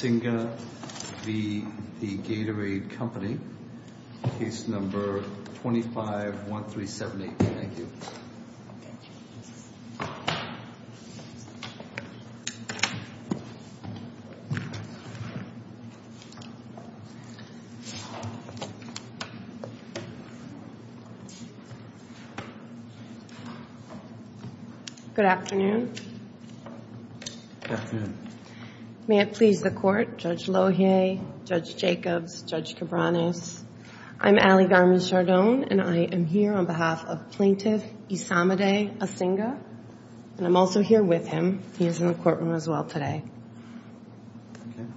Case No. 25-1378. Thank you. Good afternoon. Good afternoon. May it please the Court, Judge Lohier, Judge Jacobs, Judge Cabranes. I'm Allie Garmin-Chardon, and I am here on behalf of Plaintiff Isamide Asinga, and I'm also here with him. He is in the courtroom as well today.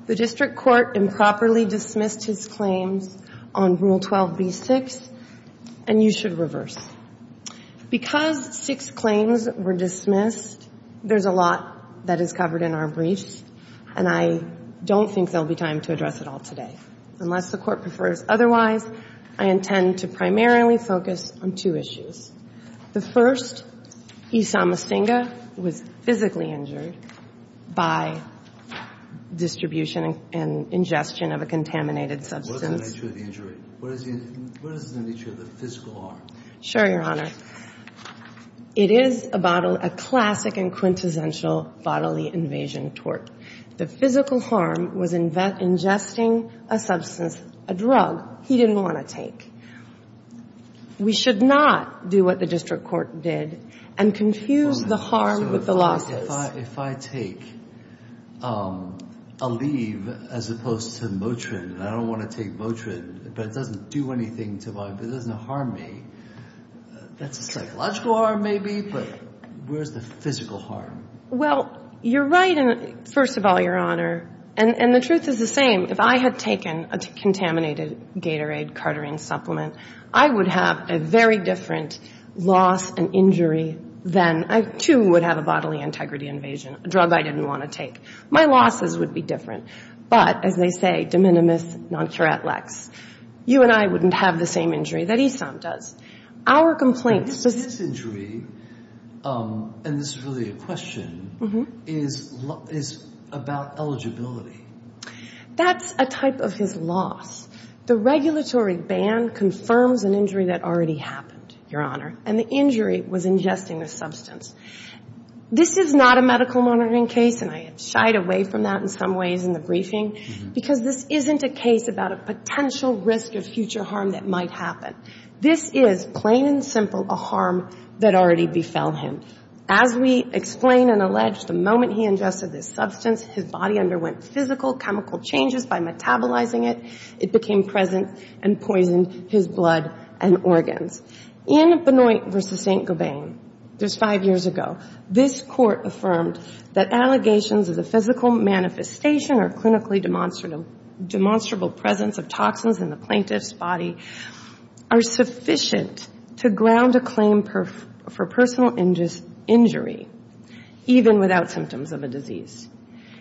The District Court improperly dismissed his claims on Rule 12b-6, and you should reverse. Because six claims were dismissed, there's a lot that is covered in our briefs, and I don't think there will be time to address it all today, unless the Court prefers otherwise. I intend to primarily focus on two issues. The first, Isam Asinga was physically injured by distribution and ingestion of a contaminated substance. What is the nature of the injury? What is the nature of the physical harm? Sure, Your Honor. It is a classic and quintessential bodily invasion tort. The physical harm was ingesting a substance, a drug, he didn't want to take. We should not do what the District Court did and confuse the harm with the losses. If I take Aleve as opposed to Motrin, and I don't want to take Motrin, but it doesn't do anything to my body, it doesn't harm me, that's a psychological harm maybe, but where's the physical harm? Well, you're right, first of all, Your Honor, and the truth is the same. If I had taken a contaminated Gatorade, Cartarine supplement, I would have a very different loss and injury than I, too, would have a bodily integrity invasion, a drug I didn't want to take. My losses would be different. But, as they say, de minimis non curat lex, you and I wouldn't have the same injury that Issam does. Our complaints... But his injury, and this is really a question, is about eligibility. That's a type of his loss. The regulatory ban confirms an injury that already happened, Your Honor, and the injury was ingesting a substance. This is not a medical monitoring case, and I have shied away from that in some ways in the briefing, because this isn't a case about a potential risk of future harm that might happen. This is, plain and simple, a harm that already befell him. As we explain and allege, the moment he ingested this substance, his body underwent physical, chemical changes by metabolizing it. It became present and poisoned his blood and organs. In Benoit v. St. Gobain, just five years ago, this Court affirmed that allegations of the physical manifestation or clinically demonstrable presence of toxins in the plaintiff's body are sufficient to ground a claim for personal injury, even without symptoms of a disease.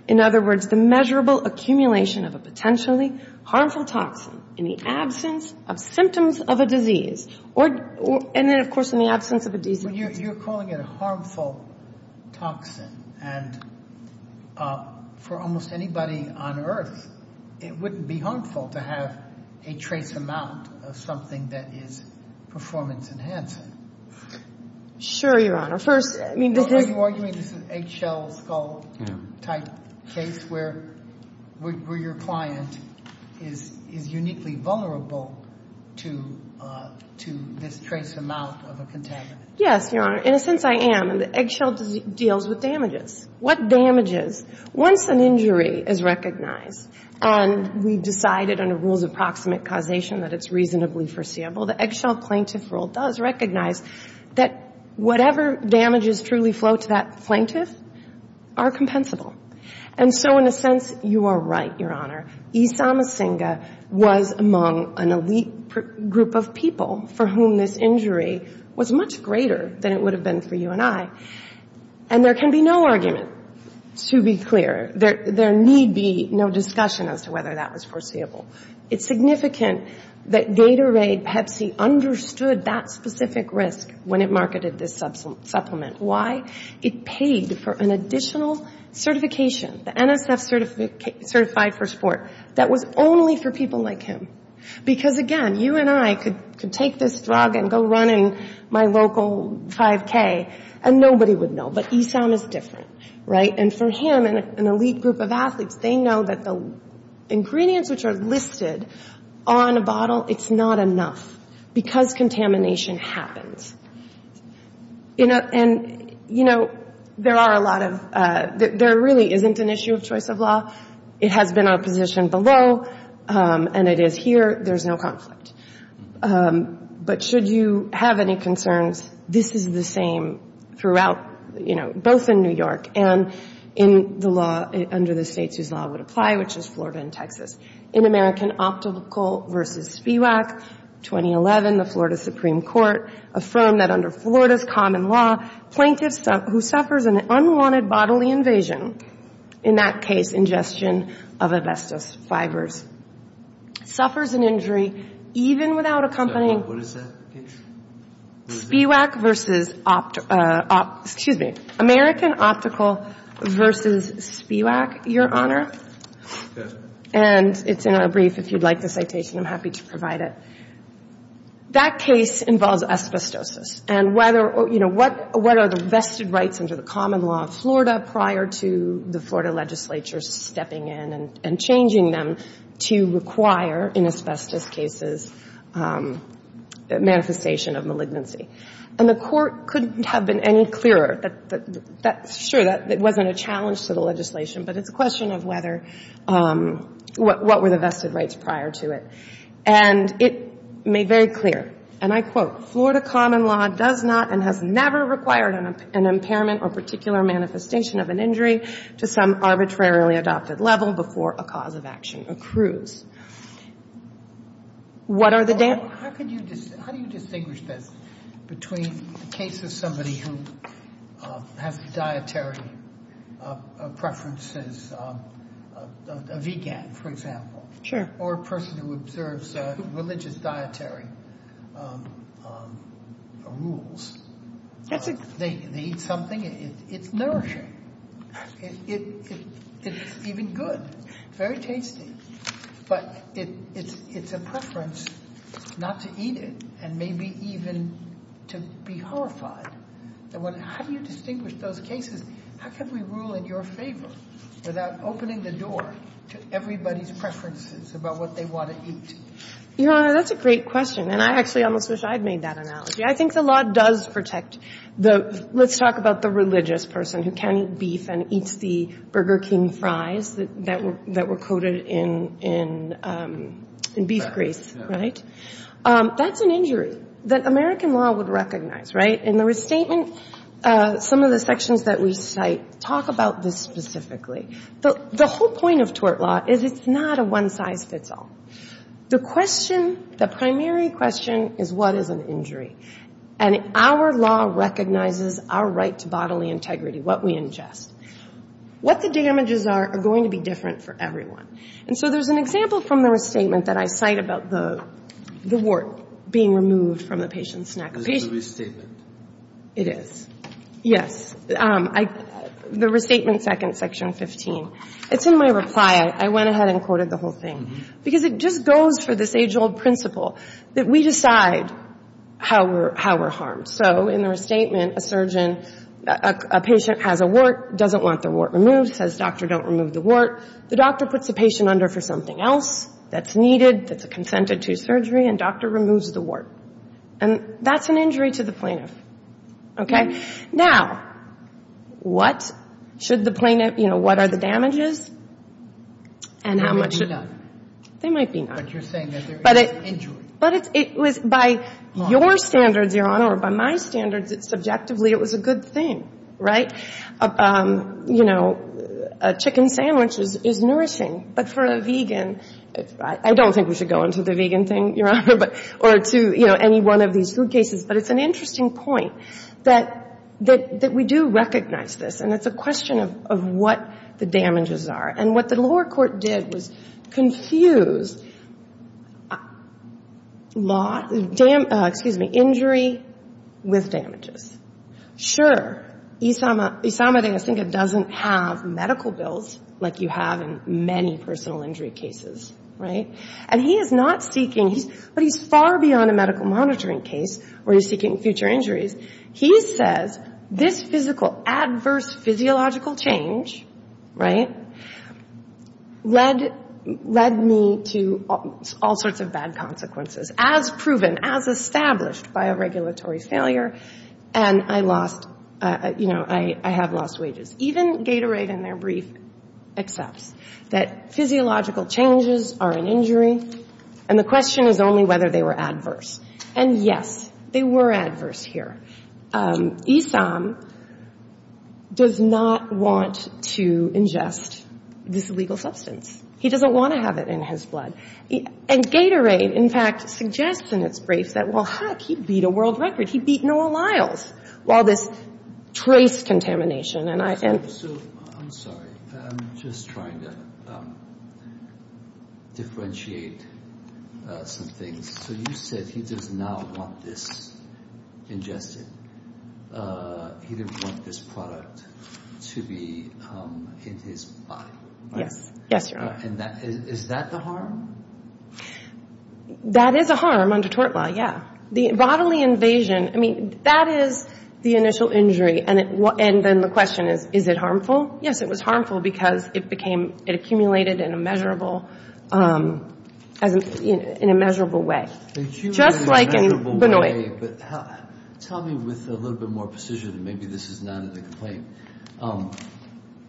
In other words, the measurable accumulation of a potentially harmful toxin in the absence of symptoms of a disease, and then, of course, in the absence of a disease. But you're calling it a harmful toxin, and for almost anybody on earth, it wouldn't be harmful to have a trace amount of something that is performance enhancing. Sure, Your Honor. First, I mean, this is... Is this where your client is uniquely vulnerable to this trace amount of a contaminant? Yes, Your Honor. In a sense, I am. And the eggshell deals with damages. What damages? Once an injury is recognized, and we've decided under rules of proximate causation that it's reasonably foreseeable, the eggshell plaintiff rule does recognize that whatever damages truly flow to that plaintiff are compensable. And so, in a sense, you are right, Your Honor. E. samasinga was among an elite group of people for whom this injury was much greater than it would have been for you and I. And there can be no argument, to be clear. There need be no discussion as to whether that was foreseeable. It's significant that Gatorade, Pepsi, understood that specific risk when it marketed this supplement. Why? It paid for an additional certification, the NSF certified for sport, that was only for people like him. Because, again, you and I could take this drug and go running my local 5K, and nobody would know. But E. sam is different, right? And for him and an elite group of athletes, they know that the ingredients which are listed on a bottle, it's not enough because contamination happens. And, you know, there are a lot of, there really isn't an issue of choice of law. It has been opposition below, and it is here. There's no conflict. But should you have any concerns, this is the same throughout, you know, both in New York and in the law under the states whose law would apply, which is Florida and Texas. In American Optical versus SPIWAC, 2011, the Florida Supreme Court affirmed that under Florida's common law, plaintiffs who suffers an unwanted bodily invasion, in that case, ingestion of asbestos fibers, suffers an injury even without accompanying SPIWAC versus, excuse me, American Optical versus SPIWAC, Your Honor. And it's in a brief. If you'd like the citation, I'm happy to provide it. That case involves asbestosis. And whether, you know, what are the vested rights under the common law of Florida prior to the Florida legislature stepping in and changing them to require, in asbestos cases, manifestation of malignancy. And the court couldn't have been any clearer. Sure, it wasn't a challenge to the legislation, but it's a question of whether, what were the vested rights prior to it. And it made very clear, and I quote, Florida common law does not and has never required an impairment or particular manifestation of an injury to some arbitrarily adopted level before a cause of action accrues. What are the data? How do you distinguish this between the case of somebody who has a dietary preference as a vegan, for example. Sure. Or a person who observes religious dietary rules. They eat something, it's nourishing. It's even good, very tasty. But it's a preference not to eat it and maybe even to be horrified. How do you distinguish those cases? How can we rule in your favor without opening the door to everybody's preferences about what they want to eat? Your Honor, that's a great question. And I actually almost wish I'd made that analogy. I think the law does protect the, let's talk about the religious person who can't eat beef and eats the Burger King fries that were coated in beef grease, right? That's an injury that American law would recognize, right? In the restatement, some of the sections that we cite talk about this specifically. The whole point of tort law is it's not a one-size-fits-all. The question, the primary question is what is an injury? And our law recognizes our right to bodily integrity, what we ingest. What the damages are are going to be different for everyone. And so there's an example from the restatement that I cite about the wart being removed from the patient's neck. Is it a restatement? It is. Yes. The restatement second, section 15. It's in my reply. I went ahead and quoted the whole thing. Because it just goes for this age-old principle that we decide how we're harmed. So in the restatement, a surgeon, a patient has a wart, doesn't want the wart removed, says, doctor, don't remove the wart. The doctor puts the patient under for something else that's needed, that's consented to surgery, and doctor removes the wart. And that's an injury to the plaintiff. Okay? Now, what should the plaintiff, you know, what are the damages and how much? They might be none. They might be none. But you're saying that there is an injury. But it was by your standards, Your Honor, or by my standards, subjectively it was a good thing. Right? You know, a chicken sandwich is nourishing. But for a vegan, I don't think we should go into the vegan thing, Your Honor, or to, you know, any one of these food cases. But it's an interesting point that we do recognize this. And it's a question of what the damages are. And what the lower court did was confuse injury with damages. Sure. Isamah de la Cinca doesn't have medical bills like you have in many personal injury cases. Right? And he is not seeking, but he's far beyond a medical monitoring case where he's seeking future injuries. He says, this physical adverse physiological change, right, led me to all sorts of bad consequences, as proven, as established by a regulatory failure. And I lost, you know, I have lost wages. Even Gatorade in their brief accepts that physiological changes are an injury. And the question is only whether they were adverse. And, yes, they were adverse here. Isamah does not want to ingest this illegal substance. He doesn't want to have it in his blood. And Gatorade, in fact, suggests in its briefs that, well, heck, he beat a world record. He beat Noah Lyles while this trace contamination. So, I'm sorry. I'm just trying to differentiate some things. So you said he does not want this ingested. He didn't want this product to be in his body. Yes. Yes, Your Honor. And is that the harm? That is a harm under tort law, yeah. The bodily invasion, I mean, that is the initial injury. And then the question is, is it harmful? Yes, it was harmful because it became, it accumulated in a measurable, in a measurable way. Just like in Benoît. Tell me with a little bit more precision, and maybe this is not in the complaint.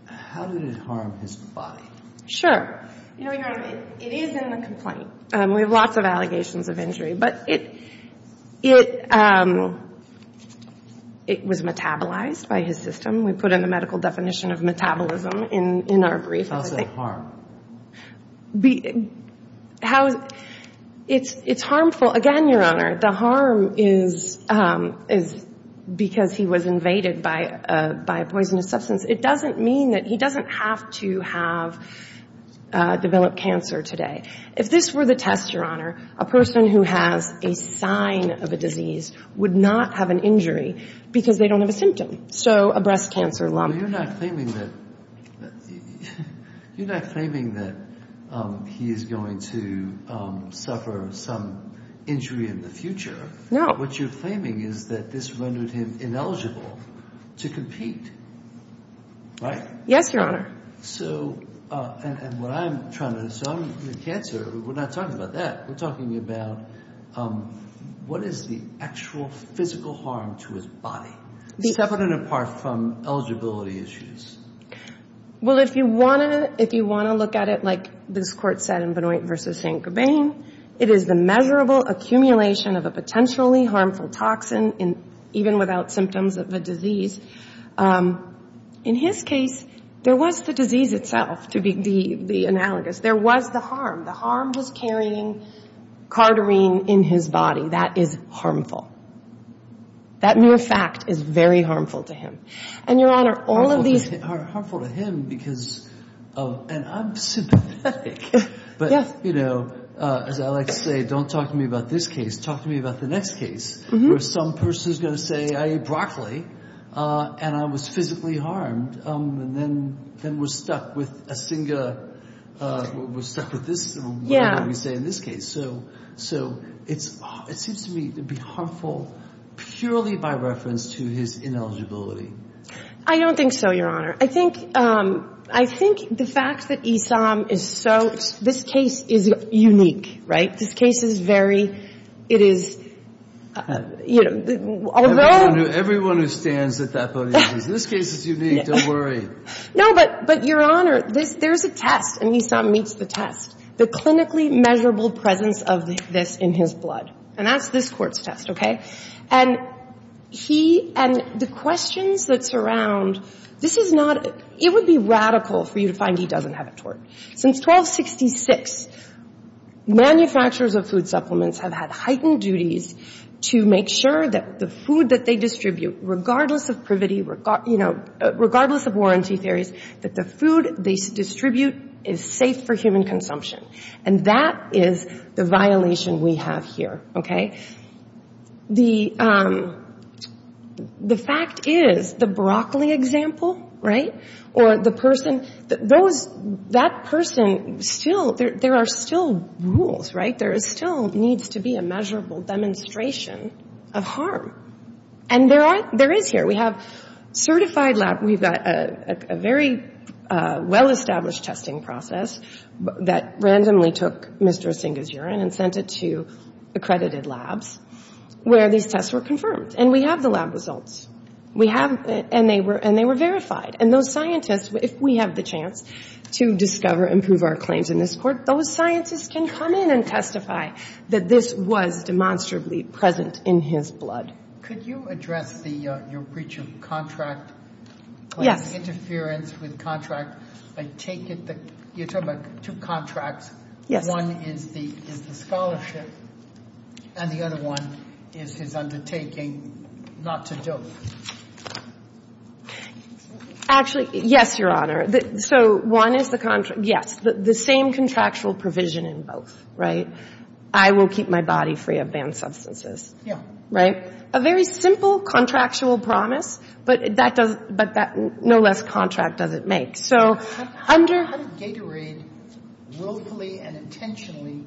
How did it harm his body? Sure. You know, Your Honor, it is in the complaint. We have lots of allegations of injury. But it was metabolized by his system. We put in the medical definition of metabolism in our brief. How is that a harm? It's harmful. Again, Your Honor, the harm is because he was invaded by a poisonous substance. It doesn't mean that he doesn't have to have developed cancer today. If this were the test, Your Honor, a person who has a sign of a disease would not have an injury because they don't have a symptom. So a breast cancer lump. You're not claiming that he is going to suffer some injury in the future. No. What you're claiming is that this rendered him ineligible to compete, right? Yes, Your Honor. So, and what I'm trying to assume with cancer, we're not talking about that. We're talking about what is the actual physical harm to his body, separate and apart from eligibility issues? Well, if you want to look at it like this Court said in Benoit v. St. Gabin, it is the measurable accumulation of a potentially harmful toxin even without symptoms of a disease. In his case, there was the disease itself to be analogous. There was the harm. The harm was carrying carterine in his body. That is harmful. That mere fact is very harmful to him. And, Your Honor, all of these... Harmful to him because of, and I'm sympathetic, but, you know, as I like to say, don't talk to me about this case, talk to me about the next case where some person is going to say I ate broccoli and I was physically harmed and then we're stuck with a single, we're stuck with this. Yeah. What do we say in this case? So it seems to me to be harmful purely by reference to his ineligibility. I don't think so, Your Honor. I think the fact that Esam is so, this case is unique, right? This case is very, it is, you know, although... Everyone who stands at that podium says this case is unique, don't worry. No, but, Your Honor, there's a test and Esam meets the test. The clinically measurable presence of this in his blood. And that's this Court's test, okay? And he, and the questions that surround, this is not, it would be radical for you to find he doesn't have a tort. Since 1266, manufacturers of food supplements have had heightened duties to make sure that the food that they distribute, regardless of privity, you know, regardless of warranty theories, that the food they distribute is safe for human consumption. And that is the violation we have here, okay? The fact is the broccoli example, right? Or the person, those, that person still, there are still rules, right? There still needs to be a measurable demonstration of harm. And there are, there is here. We have certified lab, we've got a very well-established testing process that randomly took Mr. Asinga's urine and sent it to accredited labs where these tests were confirmed. And we have the lab results. We have, and they were verified. And those scientists, if we have the chance to discover and prove our claims in this Court, those scientists can come in and testify that this was demonstrably present in his blood. Could you address the, your breach of contract? Yes. Interference with contract. I take it that you're talking about two contracts. Yes. One is the scholarship, and the other one is his undertaking not to dope. Actually, yes, Your Honor. So one is the contract, yes. The same contractual provision in both, right? I will keep my body free of banned substances. Yeah. Right? A very simple contractual promise, but that does, but that no less contract does it make. So under. How did Gatorade willfully and intentionally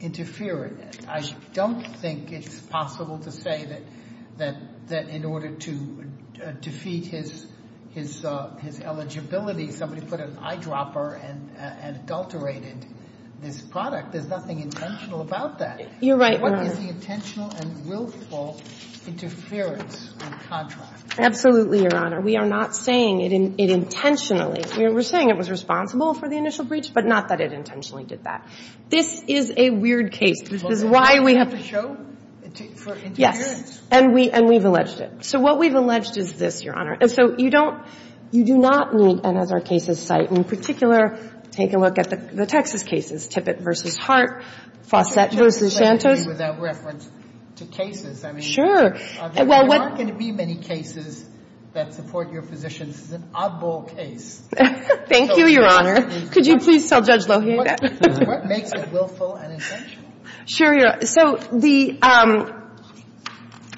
interfere? I don't think it's possible to say that in order to defeat his eligibility somebody put an eyedropper and adulterated this product. There's nothing intentional about that. You're right, Your Honor. What is the intentional and willful interference in contract? Absolutely, Your Honor. We are not saying it intentionally. We're saying it was responsible for the initial breach, but not that it intentionally did that. This is a weird case. This is why we have to show for interference. And we've alleged it. So what we've alleged is this, Your Honor. And so you don't, you do not need another case's site. In particular, take a look at the Texas cases, Tippett v. Hart, Fawcett v. Santos. Without reference to cases, I mean. Sure. There aren't going to be many cases that support your position. This is an oddball case. Thank you, Your Honor. Could you please tell Judge Lohier that? What makes it willful and intentional? Sure, Your Honor. So the,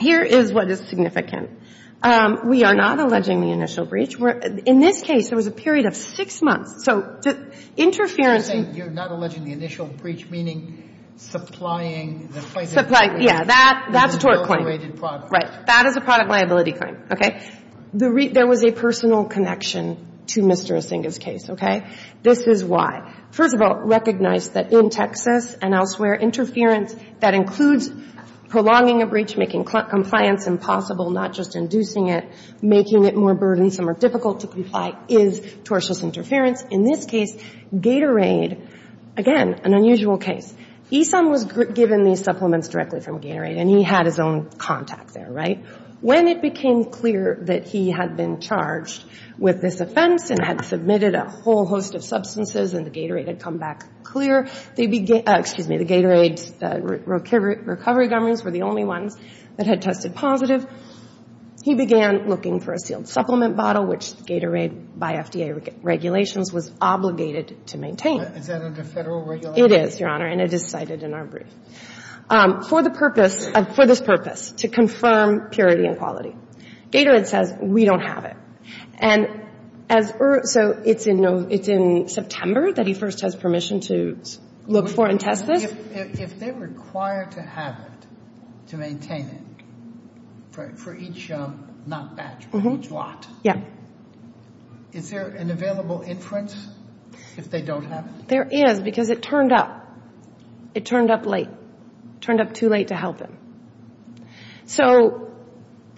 here is what is significant. We are not alleging the initial breach. In this case, there was a period of six months. So the interference. You're saying you're not alleging the initial breach, meaning supplying. Supplying, yeah. That's a tort claim. Adulterated product. Right. That is a product liability claim. Okay. There was a personal connection to Mr. Asinga's case. Okay. This is why. First of all, recognize that in Texas and elsewhere, interference that includes prolonging a breach, making compliance impossible, not just inducing it, making it more burdensome or difficult to comply, is tortious interference. In this case, Gatorade, again, an unusual case. Esom was given these supplements directly from Gatorade, and he had his own contact there. Right. When it became clear that he had been charged with this offense and had submitted a whole host of substances and the Gatorade had come back clear, they began, excuse me, the Gatorade recovery governments were the only ones that had tested positive. He began looking for a sealed supplement bottle, which Gatorade, by FDA regulations, was obligated to maintain. Is that under federal regulation? It is, Your Honor, and it is cited in our brief. For the purpose, for this purpose, to confirm purity and quality. Gatorade says, we don't have it. And so it's in September that he first has permission to look for and test this. If they're required to have it, to maintain it, for each, not batch, but each lot. Yeah. Is there an available inference if they don't have it? There is, because it turned up. It turned up late. It turned up too late to help him. So,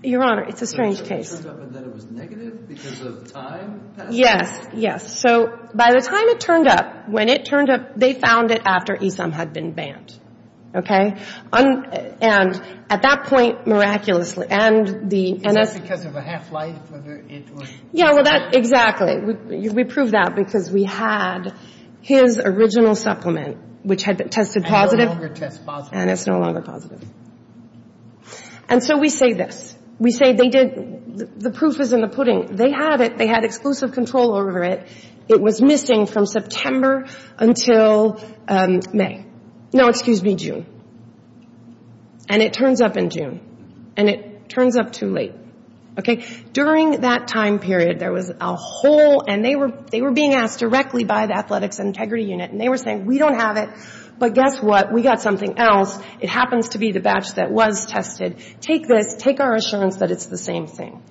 Your Honor, it's a strange case. So it turned up and then it was negative because of time passing? Yes, yes. So by the time it turned up, when it turned up, they found it after Esam had been banned. Okay? And at that point, miraculously, and the NS... Is that because of a half-life, whether it was... Yeah, well, that, exactly. We proved that because we had his original supplement, which had tested positive. And no longer tests positive. And it's no longer positive. And so we say this. We say they did, the proof is in the pudding. They had it. They had exclusive control over it. It was missing from September until May. No, excuse me, June. And it turns up in June. And it turns up too late. Okay? During that time period, there was a whole... And they were being asked directly by the Athletics Integrity Unit. And they were saying, we don't have it. But guess what? We got something else. It happens to be the batch that was tested. Take this. Take our assurance that it's the same thing.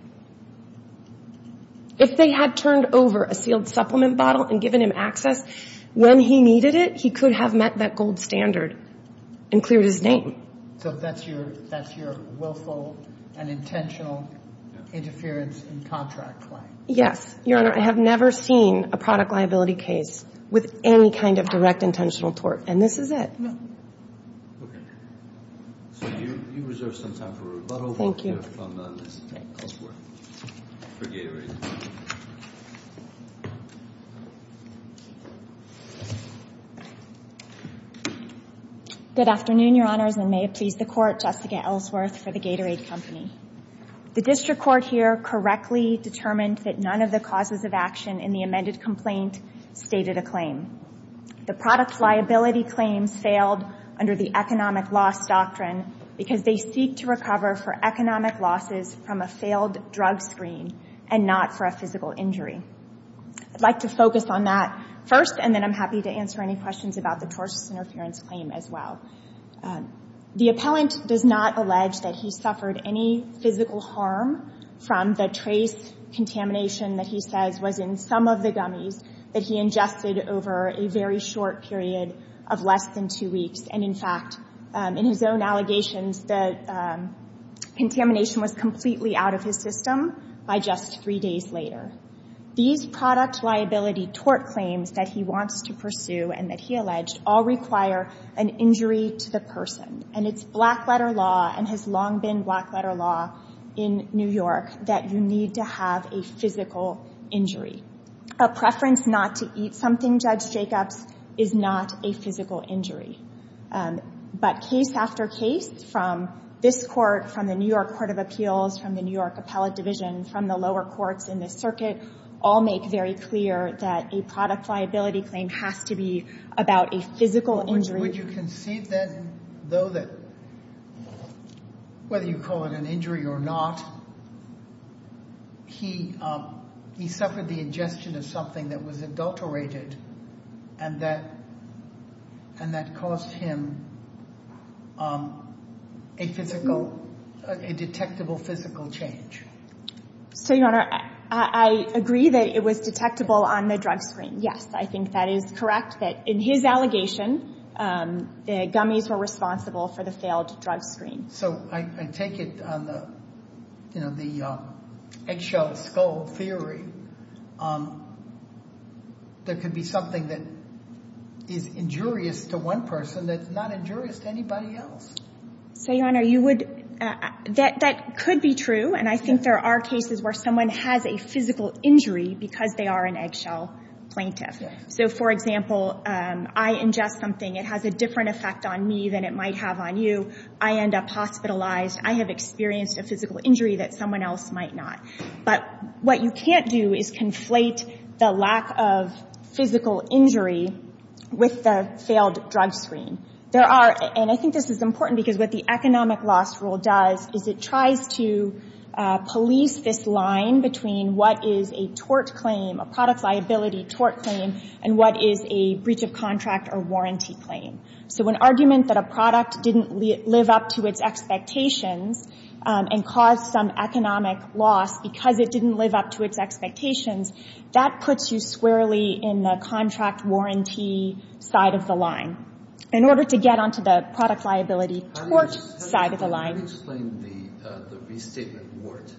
If they had turned over a sealed supplement bottle and given him access when he needed it, he could have met that gold standard and cleared his name. So that's your willful and intentional interference in contract claim? Yes. Your Honor, I have never seen a product liability case with any kind of direct intentional tort. And this is it. No. Okay. So you reserve some time for rebuttal. Thank you. Thank you. Good afternoon, Your Honors. And may it please the Court, Jessica Ellsworth for the Gatorade Company. The District Court here correctly determined that none of the causes of action in the amended complaint stated a claim. The product liability claims failed under the economic loss doctrine because they seek to recover for economic losses from a failed drug screen and not for a physical injury. I'd like to focus on that first and then I'm happy to answer any questions about the tortious interference claim as well. The appellant does not allege that he suffered any physical harm from the trace contamination that he says was in some of the gummies that he ingested over a very short period of less than two weeks. And in fact, in his own allegations, the contamination was completely out of his system by just three days later. These product liability tort claims that he wants to pursue and that he alleged all require an injury to the person. And it's black letter law and has long been black letter law in New York that you need to have a physical injury. A preference not to eat something, Judge Jacobs, is not a physical injury. But case after case from this court, from the New York Court of Appeals, from the New York Appellate Division, from the lower courts in the circuit, all make very clear that a product liability claim has to be about a physical injury. Would you concede then though that whether you call it an injury or not, he suffered the ingestion of something that was adulterated and that caused him a physical, a detectable physical change? So, Your Honor, I agree that it was detectable on the drug screen. Yes, I think that is correct that in his allegation, the gummies were responsible for the failed drug screen. So, I take it on the eggshell skull theory, there could be something that is injurious to one person that's not injurious to anybody else. So, Your Honor, you would, that could be true and I think there are cases where someone has a physical injury because they are an eggshell plaintiff. So, for example, I ingest something, it has a different effect on me than it might have on you, I end up hospitalized, I have experienced a physical injury that someone else might not. But what you can't do is conflate the lack of physical injury with the failed drug screen. There are, and I think this is important because what the economic loss rule does is it tries to police this line between what is a tort claim, a product liability tort claim and what is a breach of contract or warranty claim. So, an argument that a product didn't live up to its expectations and caused some economic loss because it didn't live up to its expectations, that puts you squarely in the contract warranty side of the line in order to get onto the product liability tort side of the line. How do you explain the restatement wart?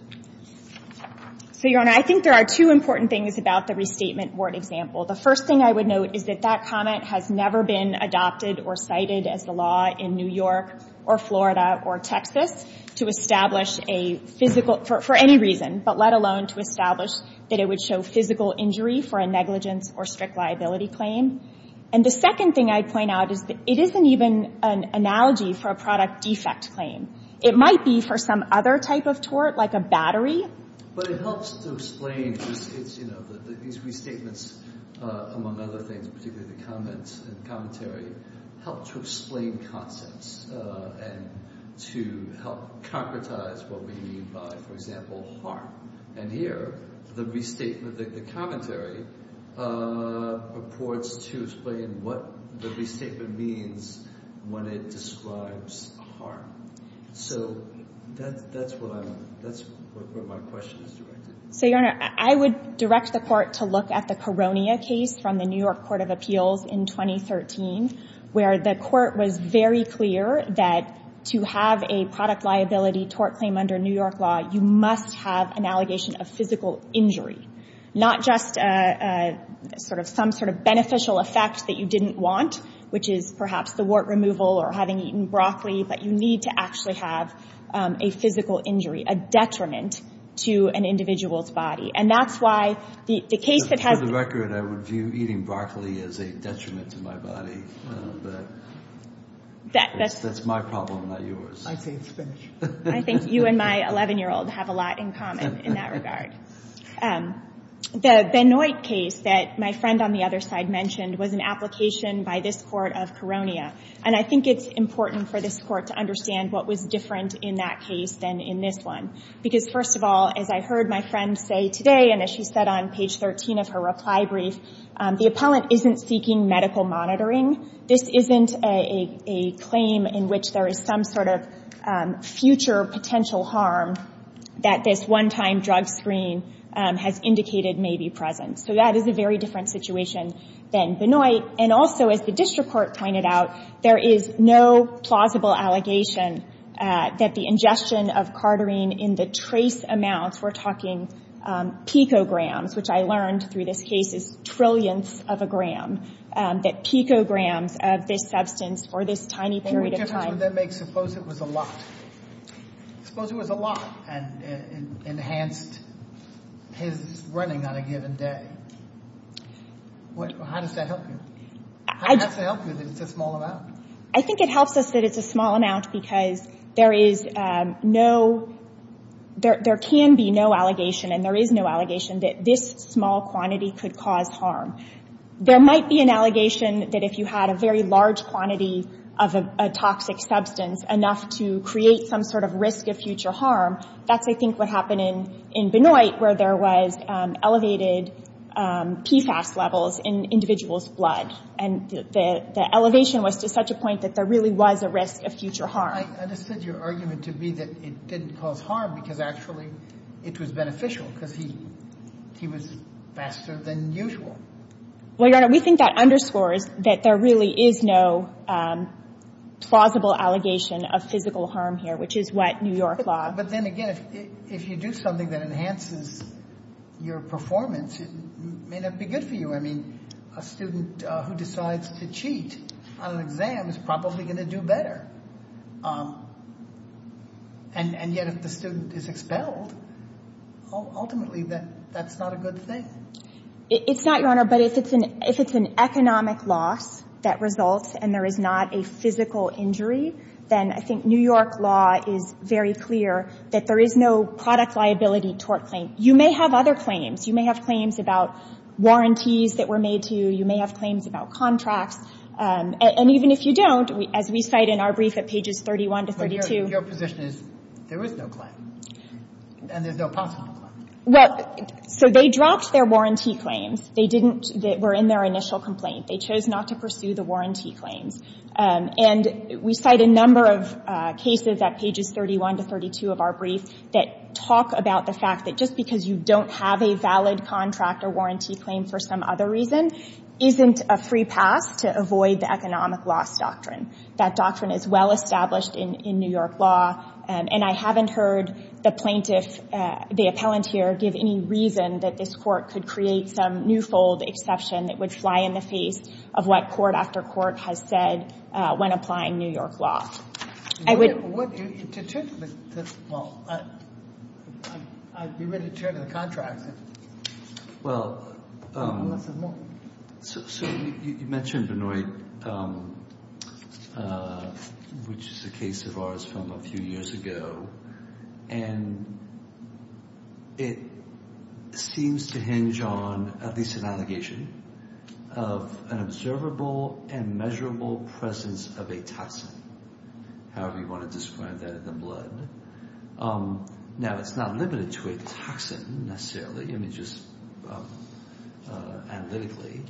So, Your Honor, I think there are two important things about the restatement wart example. The first thing I would note is that that comment has never been adopted or cited as the law in New York or Florida or Texas to establish a physical... for any reason, but let alone to establish that it would show physical injury for a negligence or strict liability claim. And the second thing I'd point out is that it isn't even an analogy for a product defect claim. It might be for some other type of tort, like a battery. But it helps to explain, you know, these restatements, among other things, particularly the comments and commentary, help to explain concepts and to help concretize what we mean by, for example, harm. And here, the restatement... the commentary purports to explain what the restatement means when it describes harm. So that's what I'm... that's where my question is directed. So, Your Honor, I would direct the court to look at the Koronia case from the New York Court of Appeals in 2013. Where the court was very clear that to have a product liability tort claim under New York law, you must have an allegation of physical injury. Not just a... sort of... some sort of beneficial effect that you didn't want, which is perhaps the wart removal or having eaten broccoli, but you need to actually have a physical injury, a detriment to an individual's body. And that's why the case that has... For the record, I would view eating broccoli as a detriment to my body. But... that's my problem, not yours. I say it's finished. I think you and my 11-year-old have a lot in common in that regard. The Benoit case that my friend on the other side mentioned was an application by this court of Koronia. And I think it's important for this court to understand what was different in that case than in this one. Because, first of all, as I heard my friend say today and as she said on page 13 of her reply brief, the appellant isn't seeking medical monitoring. This isn't a claim in which there is some sort of future potential harm that this one-time drug screen has indicated may be present. So that is a very different situation than Benoit. And also, as the district court pointed out, there is no plausible allegation that the ingestion of carterine in the trace amounts... We're talking picograms, which I learned through this case is trillionths of a gram, that picograms of this substance for this tiny period of time... What difference would that make? Suppose it was a lot. Suppose it was a lot and enhanced his running on a given day. How does that help you? How does that help you that it's a small amount? I think it helps us that it's a small amount because there is no... There can be no allegation, and there is no allegation, that this small quantity could cause harm. There might be an allegation that if you had a very large quantity of a toxic substance, enough to create some sort of risk of future harm, that's, I think, what happened in Benoit, where there was elevated PFAS levels in individuals' blood. And the elevation was to such a point that there really was a risk of future harm. I understood your argument to be that it didn't cause harm because actually it was beneficial because he was faster than usual. Well, Your Honor, we think that underscores that there really is no plausible allegation of physical harm here, which is what New York law... But then again, if you do something that enhances your performance, it may not be good for you. I mean, a student who decides to cheat on an exam is probably going to do better. And yet if the student is expelled, ultimately that's not a good thing. It's not, Your Honor, but if it's an economic loss that results and there is not a physical injury, then I think New York law is very clear that there is no product liability tort claim. You may have other claims. You may have claims about warranties that were made to you. You may have claims about contracts. And even if you don't, as we cite in our brief at pages 31 to 32... But your position is there is no claim and there's no possible claim. Well, so they dropped their warranty claims. They didn't...were in their initial complaint. They chose not to pursue the warranty claims. And we cite a number of cases at pages 31 to 32 of our brief that talk about the fact that just because you don't have a valid contract or warranty claim for some other reason isn't a free pass to avoid the economic loss doctrine. That doctrine is well established in New York law. And I haven't heard the plaintiff, the appellant here, give any reason that this court could create some new fold exception that would fly in the face of what court after court has said when applying New York law. I would... What do you... Well, I'd be ready to turn to the contractor. Well... I want to say more. So you mentioned Benoit, which is a case of ours from a few years ago, and it seems to hinge on at least an allegation of an observable and measurable presence of a toxin, however you want to describe that in the blood. Now, it's not limited to a toxin necessarily. I mean, just analytically.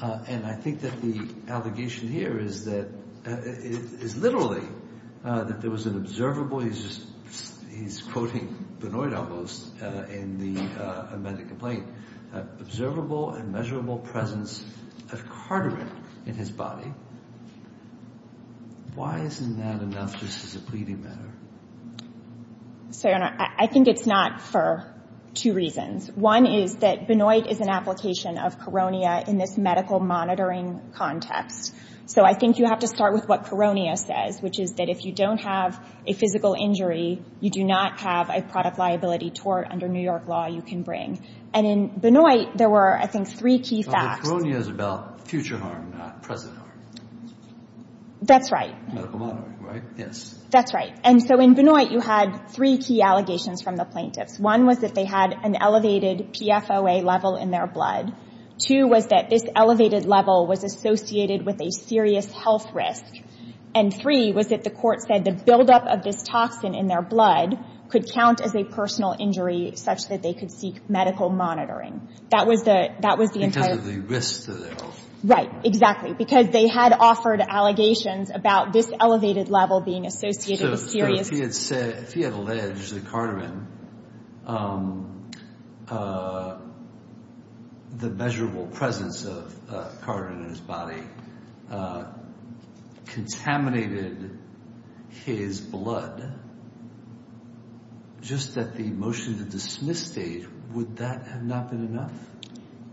And I think that the allegation here is that... is literally that there was an observable... He's just... he's quoting Benoit almost in the amended complaint. Observable and measurable presence of carotid in his body. Why isn't that enough? This is a pleading matter. So, Your Honor, I think it's not for two reasons. One is that Benoit is an application of carotid in this medical monitoring context. So I think you have to start with what carotid says, which is that if you don't have a physical injury, you do not have a product liability tort under New York law you can bring. And in Benoit, there were, I think, three key facts... But carotid is about future harm, not present harm. That's right. Medical monitoring, right? Yes. That's right. And so in Benoit, you had three key allegations from the plaintiffs. One was that they had an elevated PFOA level in their blood. Two was that this elevated level was associated with a serious health risk. And three was that the court said the buildup of this toxin in their blood could count as a personal injury such that they could seek medical monitoring. That was the entire... Because of the risk to their health. Right. Exactly. Because they had offered allegations about this elevated level being associated with serious... So if he had said... If he had alleged that Cardamon, the measurable presence of Cardamon in his body, contaminated his blood, just at the motion-to-dismiss stage, would that have not been enough?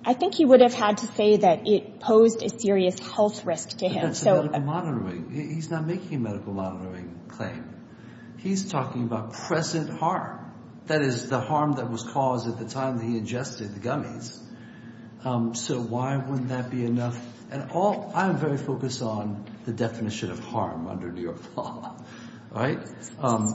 I think he would have had to say that it posed a serious health risk to him. He's not making a medical monitoring claim. He's talking about present harm. That is, the harm that was caused at the time that he ingested the gummies. So why wouldn't that be enough? And all... I'm very focused on the definition of harm under New York law. Right?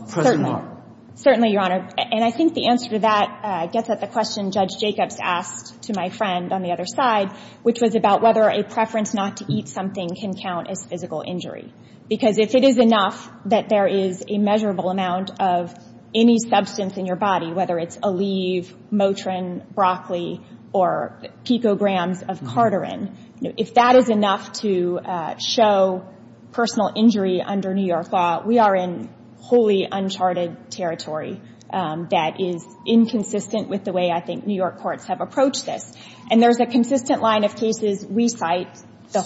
Certainly, Your Honor. And I think the answer to that gets at the question Judge Jacobs asked to my friend on the other side, which was about whether a preference not to eat something can count as physical injury. Because if it is enough that there is a measurable amount of any substance in your body, whether it's Aleve, Motrin, broccoli, or picograms of carterin, if that is enough to show personal injury under New York law, we are in wholly uncharted territory that is inconsistent with the way I think New York courts have approached this. And there's a consistent line of cases we cite. So,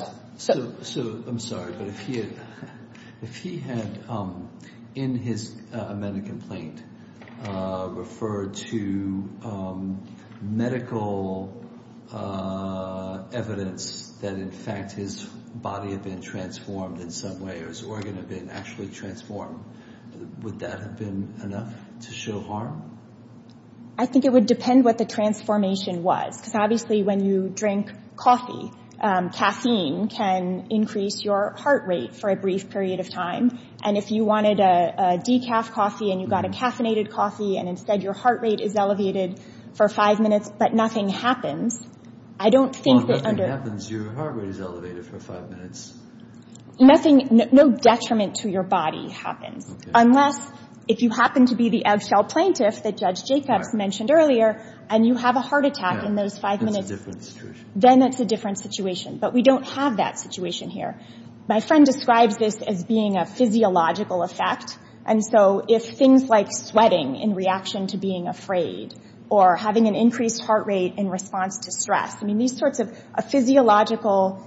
I'm sorry, but if he had, in his amended complaint, referred to medical evidence that in fact his body had been transformed in some way or his organ had been actually transformed, would that have been enough to show harm? I think it would depend what the transformation was. Because obviously when you drink coffee, caffeine can increase your heart rate for a brief period of time. And if you wanted a decaf coffee and you got a caffeinated coffee and instead your heart rate is elevated for five minutes but nothing happens, I don't think that under... Well, if nothing happens, your heart rate is elevated for five minutes. Nothing, no detriment to your body happens. Unless, if you happen to be the outshell plaintiff that Judge Jacobs mentioned earlier and you have a heart attack in those five minutes, then it's a different situation. But we don't have that situation here. My friend describes this as being a physiological effect. And so if things like sweating in reaction to being afraid or having an increased heart rate in response to stress, I mean these sorts of physiological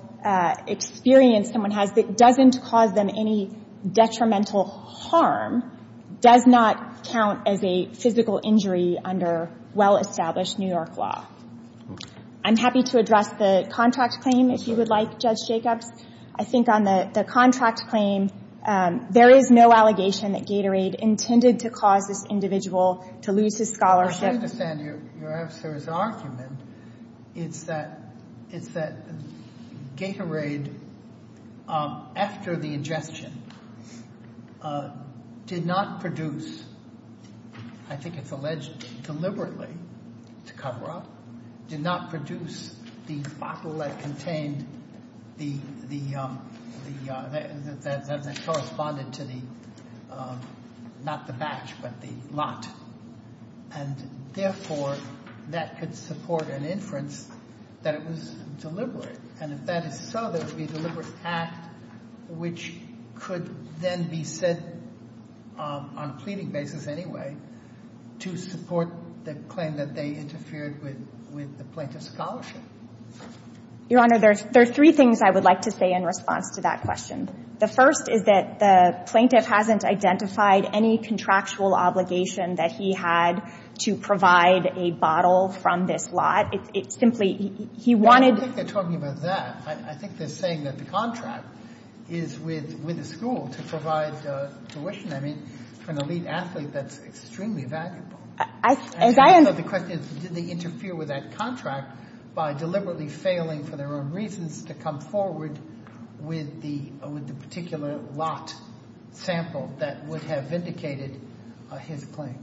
experience someone has that doesn't cause them any detrimental harm does not count as a physical injury under well-established New York law. I'm happy to address the contract claim if you would like, Judge Jacobs. I think on the contract claim there is no allegation that Gatorade intended to cause this individual to lose his scholarship. I understand your officer's argument. It's that Gatorade after the ingestion did not produce I think it's alleged deliberately to cover up did not produce the bottle that contained that corresponded to the not the batch but the lot. And therefore that could support an inference that it was deliberate. And if that is so there would be a deliberate act which could then be said on a pleading basis anyway to support the claim that they interfered with the plaintiff's scholarship. Your Honor, there are three things I would like to say in response to that question. The first is that the plaintiff hasn't identified any contractual obligation that he had to provide a bottle from this lot. It's simply he wanted I don't think they're talking about that. I think they're saying that the contract is with the school to provide tuition. I mean for an elite athlete that's extremely valuable. The question is did they interfere with that contract by deliberately failing for their own reasons to come forward with the particular lot sample that would have vindicated his claim.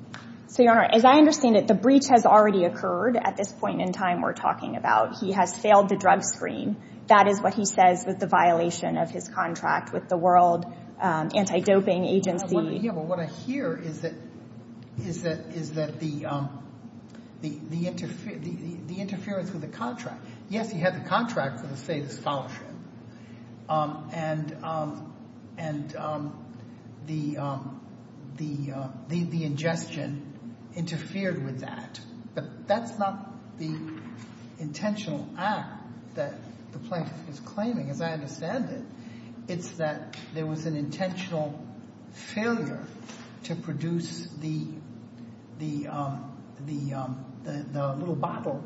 So, Your Honor, as I understand it the breach has already occurred at this point in time we're talking about. He has failed the drug screen. That is what he says with the violation of his contract with the World Anti-Doping Agency. What I hear is that the interference with the contract yes, he had the contract for the state of scholarship and the ingestion interfered with that. But that's not the intentional act that the plaintiff is claiming as I understand it. It's that there was an intentional failure to produce the little bottle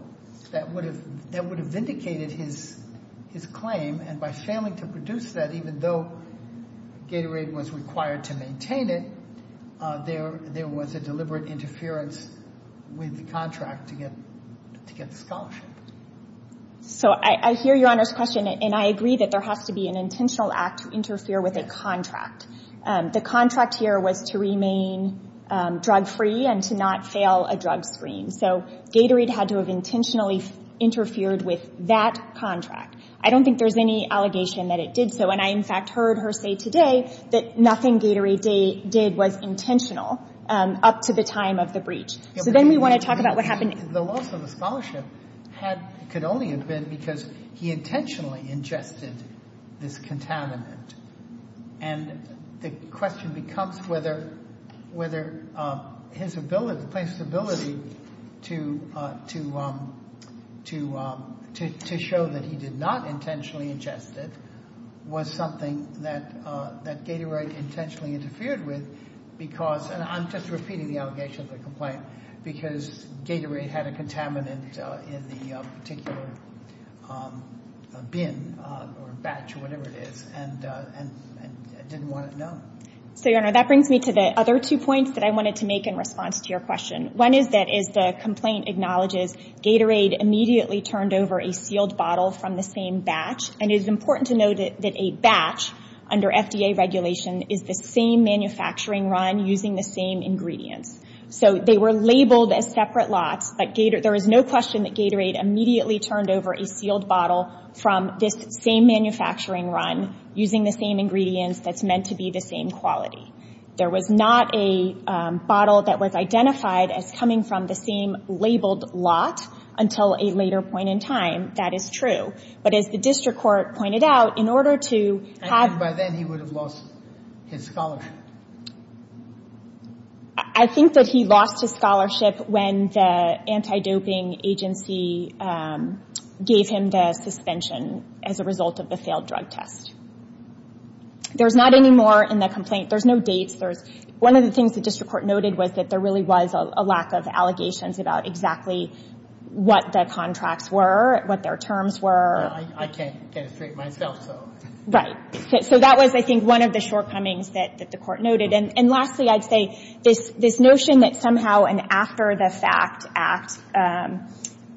that would have vindicated his claim and by failing to produce that even though Gatorade was required to maintain it there was a deliberate interference with the contract to get the scholarship. So, I hear Your Honor's question and I agree that there has to be an intentional act to interfere with a contract. The contract here was to remain drug free and to not fail a drug screen. So, Gatorade had to have interfered with that contract. I don't think there's any allegation that it did so and I in fact heard her say today that nothing Gatorade did was intentional up to the time of the breach. So, then we want to talk about what happened. The loss of the could only have been because he intentionally ingested this contaminant and the question becomes whether whether his ability the plaintiff's ability to to to to show that he did not intentionally ingest it was something that that Gatorade intentionally interfered with because and I'm just repeating the allegation of the complaint because Gatorade had a contaminant in the particular bin or batch or whatever it is and and didn't want it known. So your honor that brings me to the other two points that I wanted to make in response to your question. One is that is the complaint acknowledges Gatorade immediately turned over a sealed bottle from the same batch and it is important to know that a batch under FDA regulation is the same manufacturing run using the same ingredients. So they were run using the same ingredients that's meant to be the same quality. There was not a that was identified as coming from the same labeled lot until a later point in That is true. But as the district court pointed out in order to have I think by then he would have lost his scholarship. I think that he lost his when the anti-doping agency gave him the suspension as a result of the failed drug test. There's not anymore in the complaint there's no dates there's one of the shortcomings that the court noted. And lastly I'd say this notion that somehow an after the fact act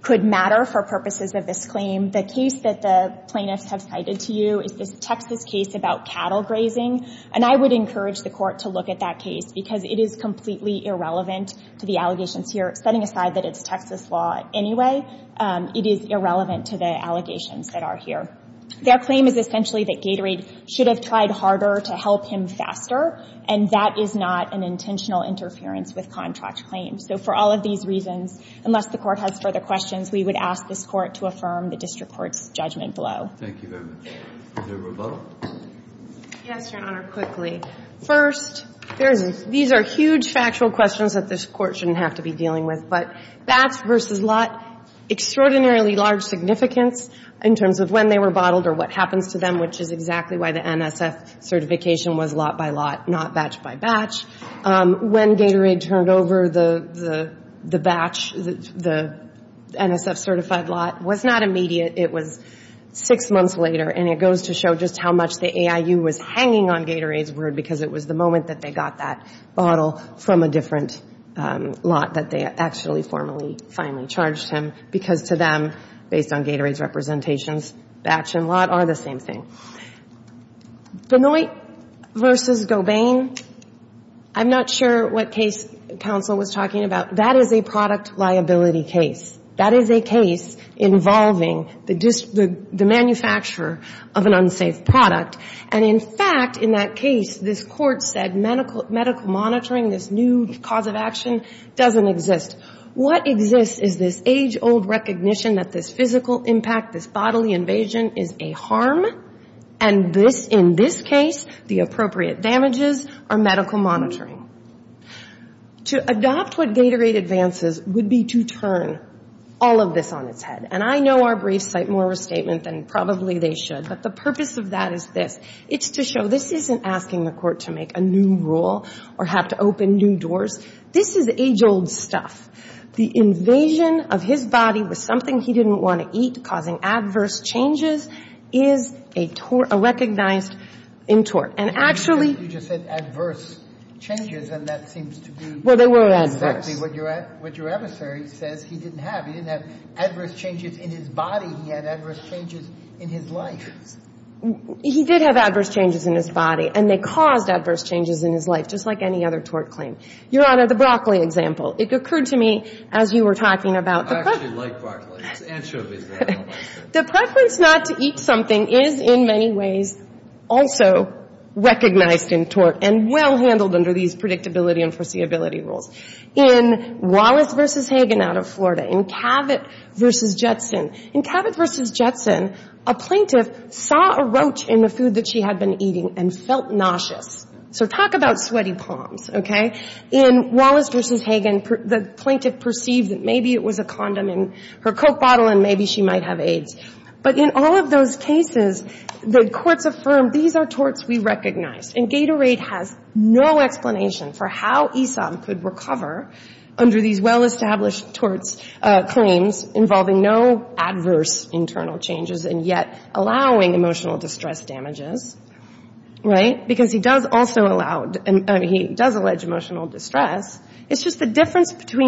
could matter for purposes of this claim. The case that the plaintiffs have cited to you is this Texas case about cattle grazing. And I would encourage the court to look at that case because it is completely irrelevant to the allegations here setting aside that it's Texas law anyway it is irrelevant to the allegations that are here. Their claim is essentially that Gatorade should have tried harder to help him faster and that is not an intentional interference with contract claims. So for all of these reasons unless the court has further questions we would ask this court to affirm the district court's judgment below. Thank you very much. Is there a rebuttal? Yes, Your Honor, quickly. First there is these are huge factual questions that this court shouldn't have to be dealing with. But versus lot extraordinarily large significance in terms of when they were or what happens to them which is exactly why the NSF certification was lot by lot not batch by batch. When Gatorade turned over the batch the NSF certified lot was not immediate it was six months later and it goes to show just how much the AIU was hanging on Gatorade's word because it was the moment they got that bottle from a different lot that they actually formally finally charged him because to them based on Gatorade's representations it's the same thing. Benoit versus Gobain I'm not sure what case counsel was talking about that is a product liability case. That is a case involving the manufacturer of an unsafe product and in fact in that case this medical monitoring this new cause of doesn't exist. What exists is this age old recognition that this physical impact bodily invasion is a harm and in this case the appropriate damages are medical monitoring. To adopt what Gatorade advances would be to turn all of this on its head and I know our briefs cite more of a than probably they should but the purpose of that is this it's to show this isn't asking the court to make a new rule or have to open new doors. This is age old stuff. The invasion of his body with something he didn't want to eat causing adverse changes is a recognized intort. And it is recognized in tort and well handled under these rules. In Wallace v. out of Florida in Cavett v. Jetson a plaintiff saw a roach in the food she had been nauseous. So talk about sweaty palms. In Wallace v. the plaintiff perceived maybe it was a condom in her coke bottle and maybe she might have But in all of those cases allege emotional distress. The difference between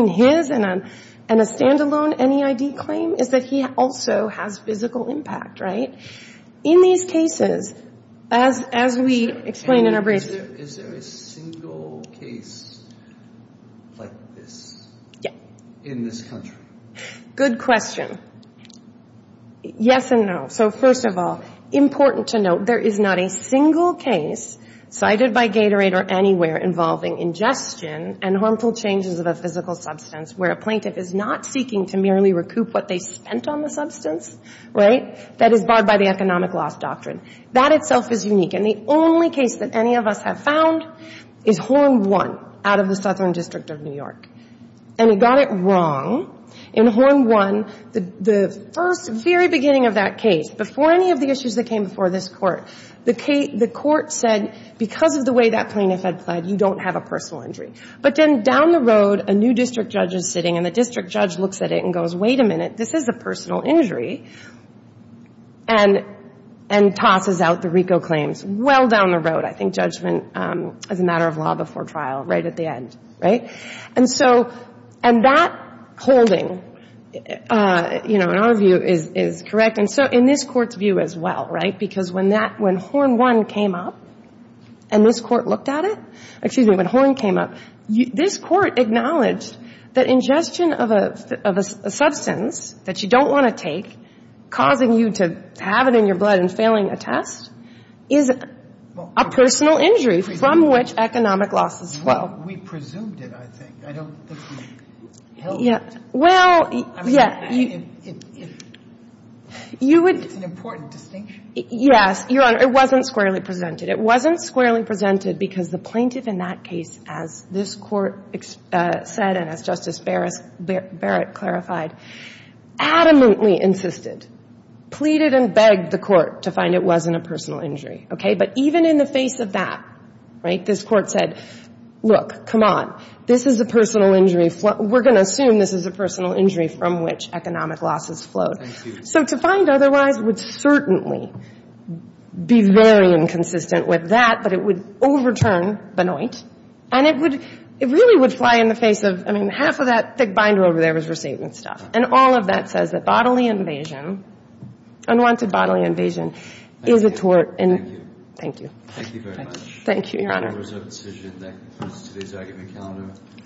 his and a stand-alone N.E.I.D. is that he also has physical impact. In these cases as we explain in our case cited by Gatorade or anywhere involving ingestion and harmful changes of a physical substance where a plaintiff is not seeking to merely recoup what they spent on the substance that is barred by the economic loss doctrine. That is said because of the way that plaintiff had you don't have a personal injury. But down the road a new district judge is sitting and he said that the court acknowledged that ingestion of a substance that you don't want to take causing you to have it in your blood and failing a test is a personal injury from which economic loss as well. presumed to be a injury. And I think that plaintiff was adamantly insistent and begged the court to find it wasn't a personal injury. But even in the face of that this court said look come on it's a personal injury from which economic losses flowed. So to find otherwise would certainly be very inconsistent with that but it would overturn Benoit and it really would fly in the face of half of the binder and all of that says bodily invasion is a injury. Thank you.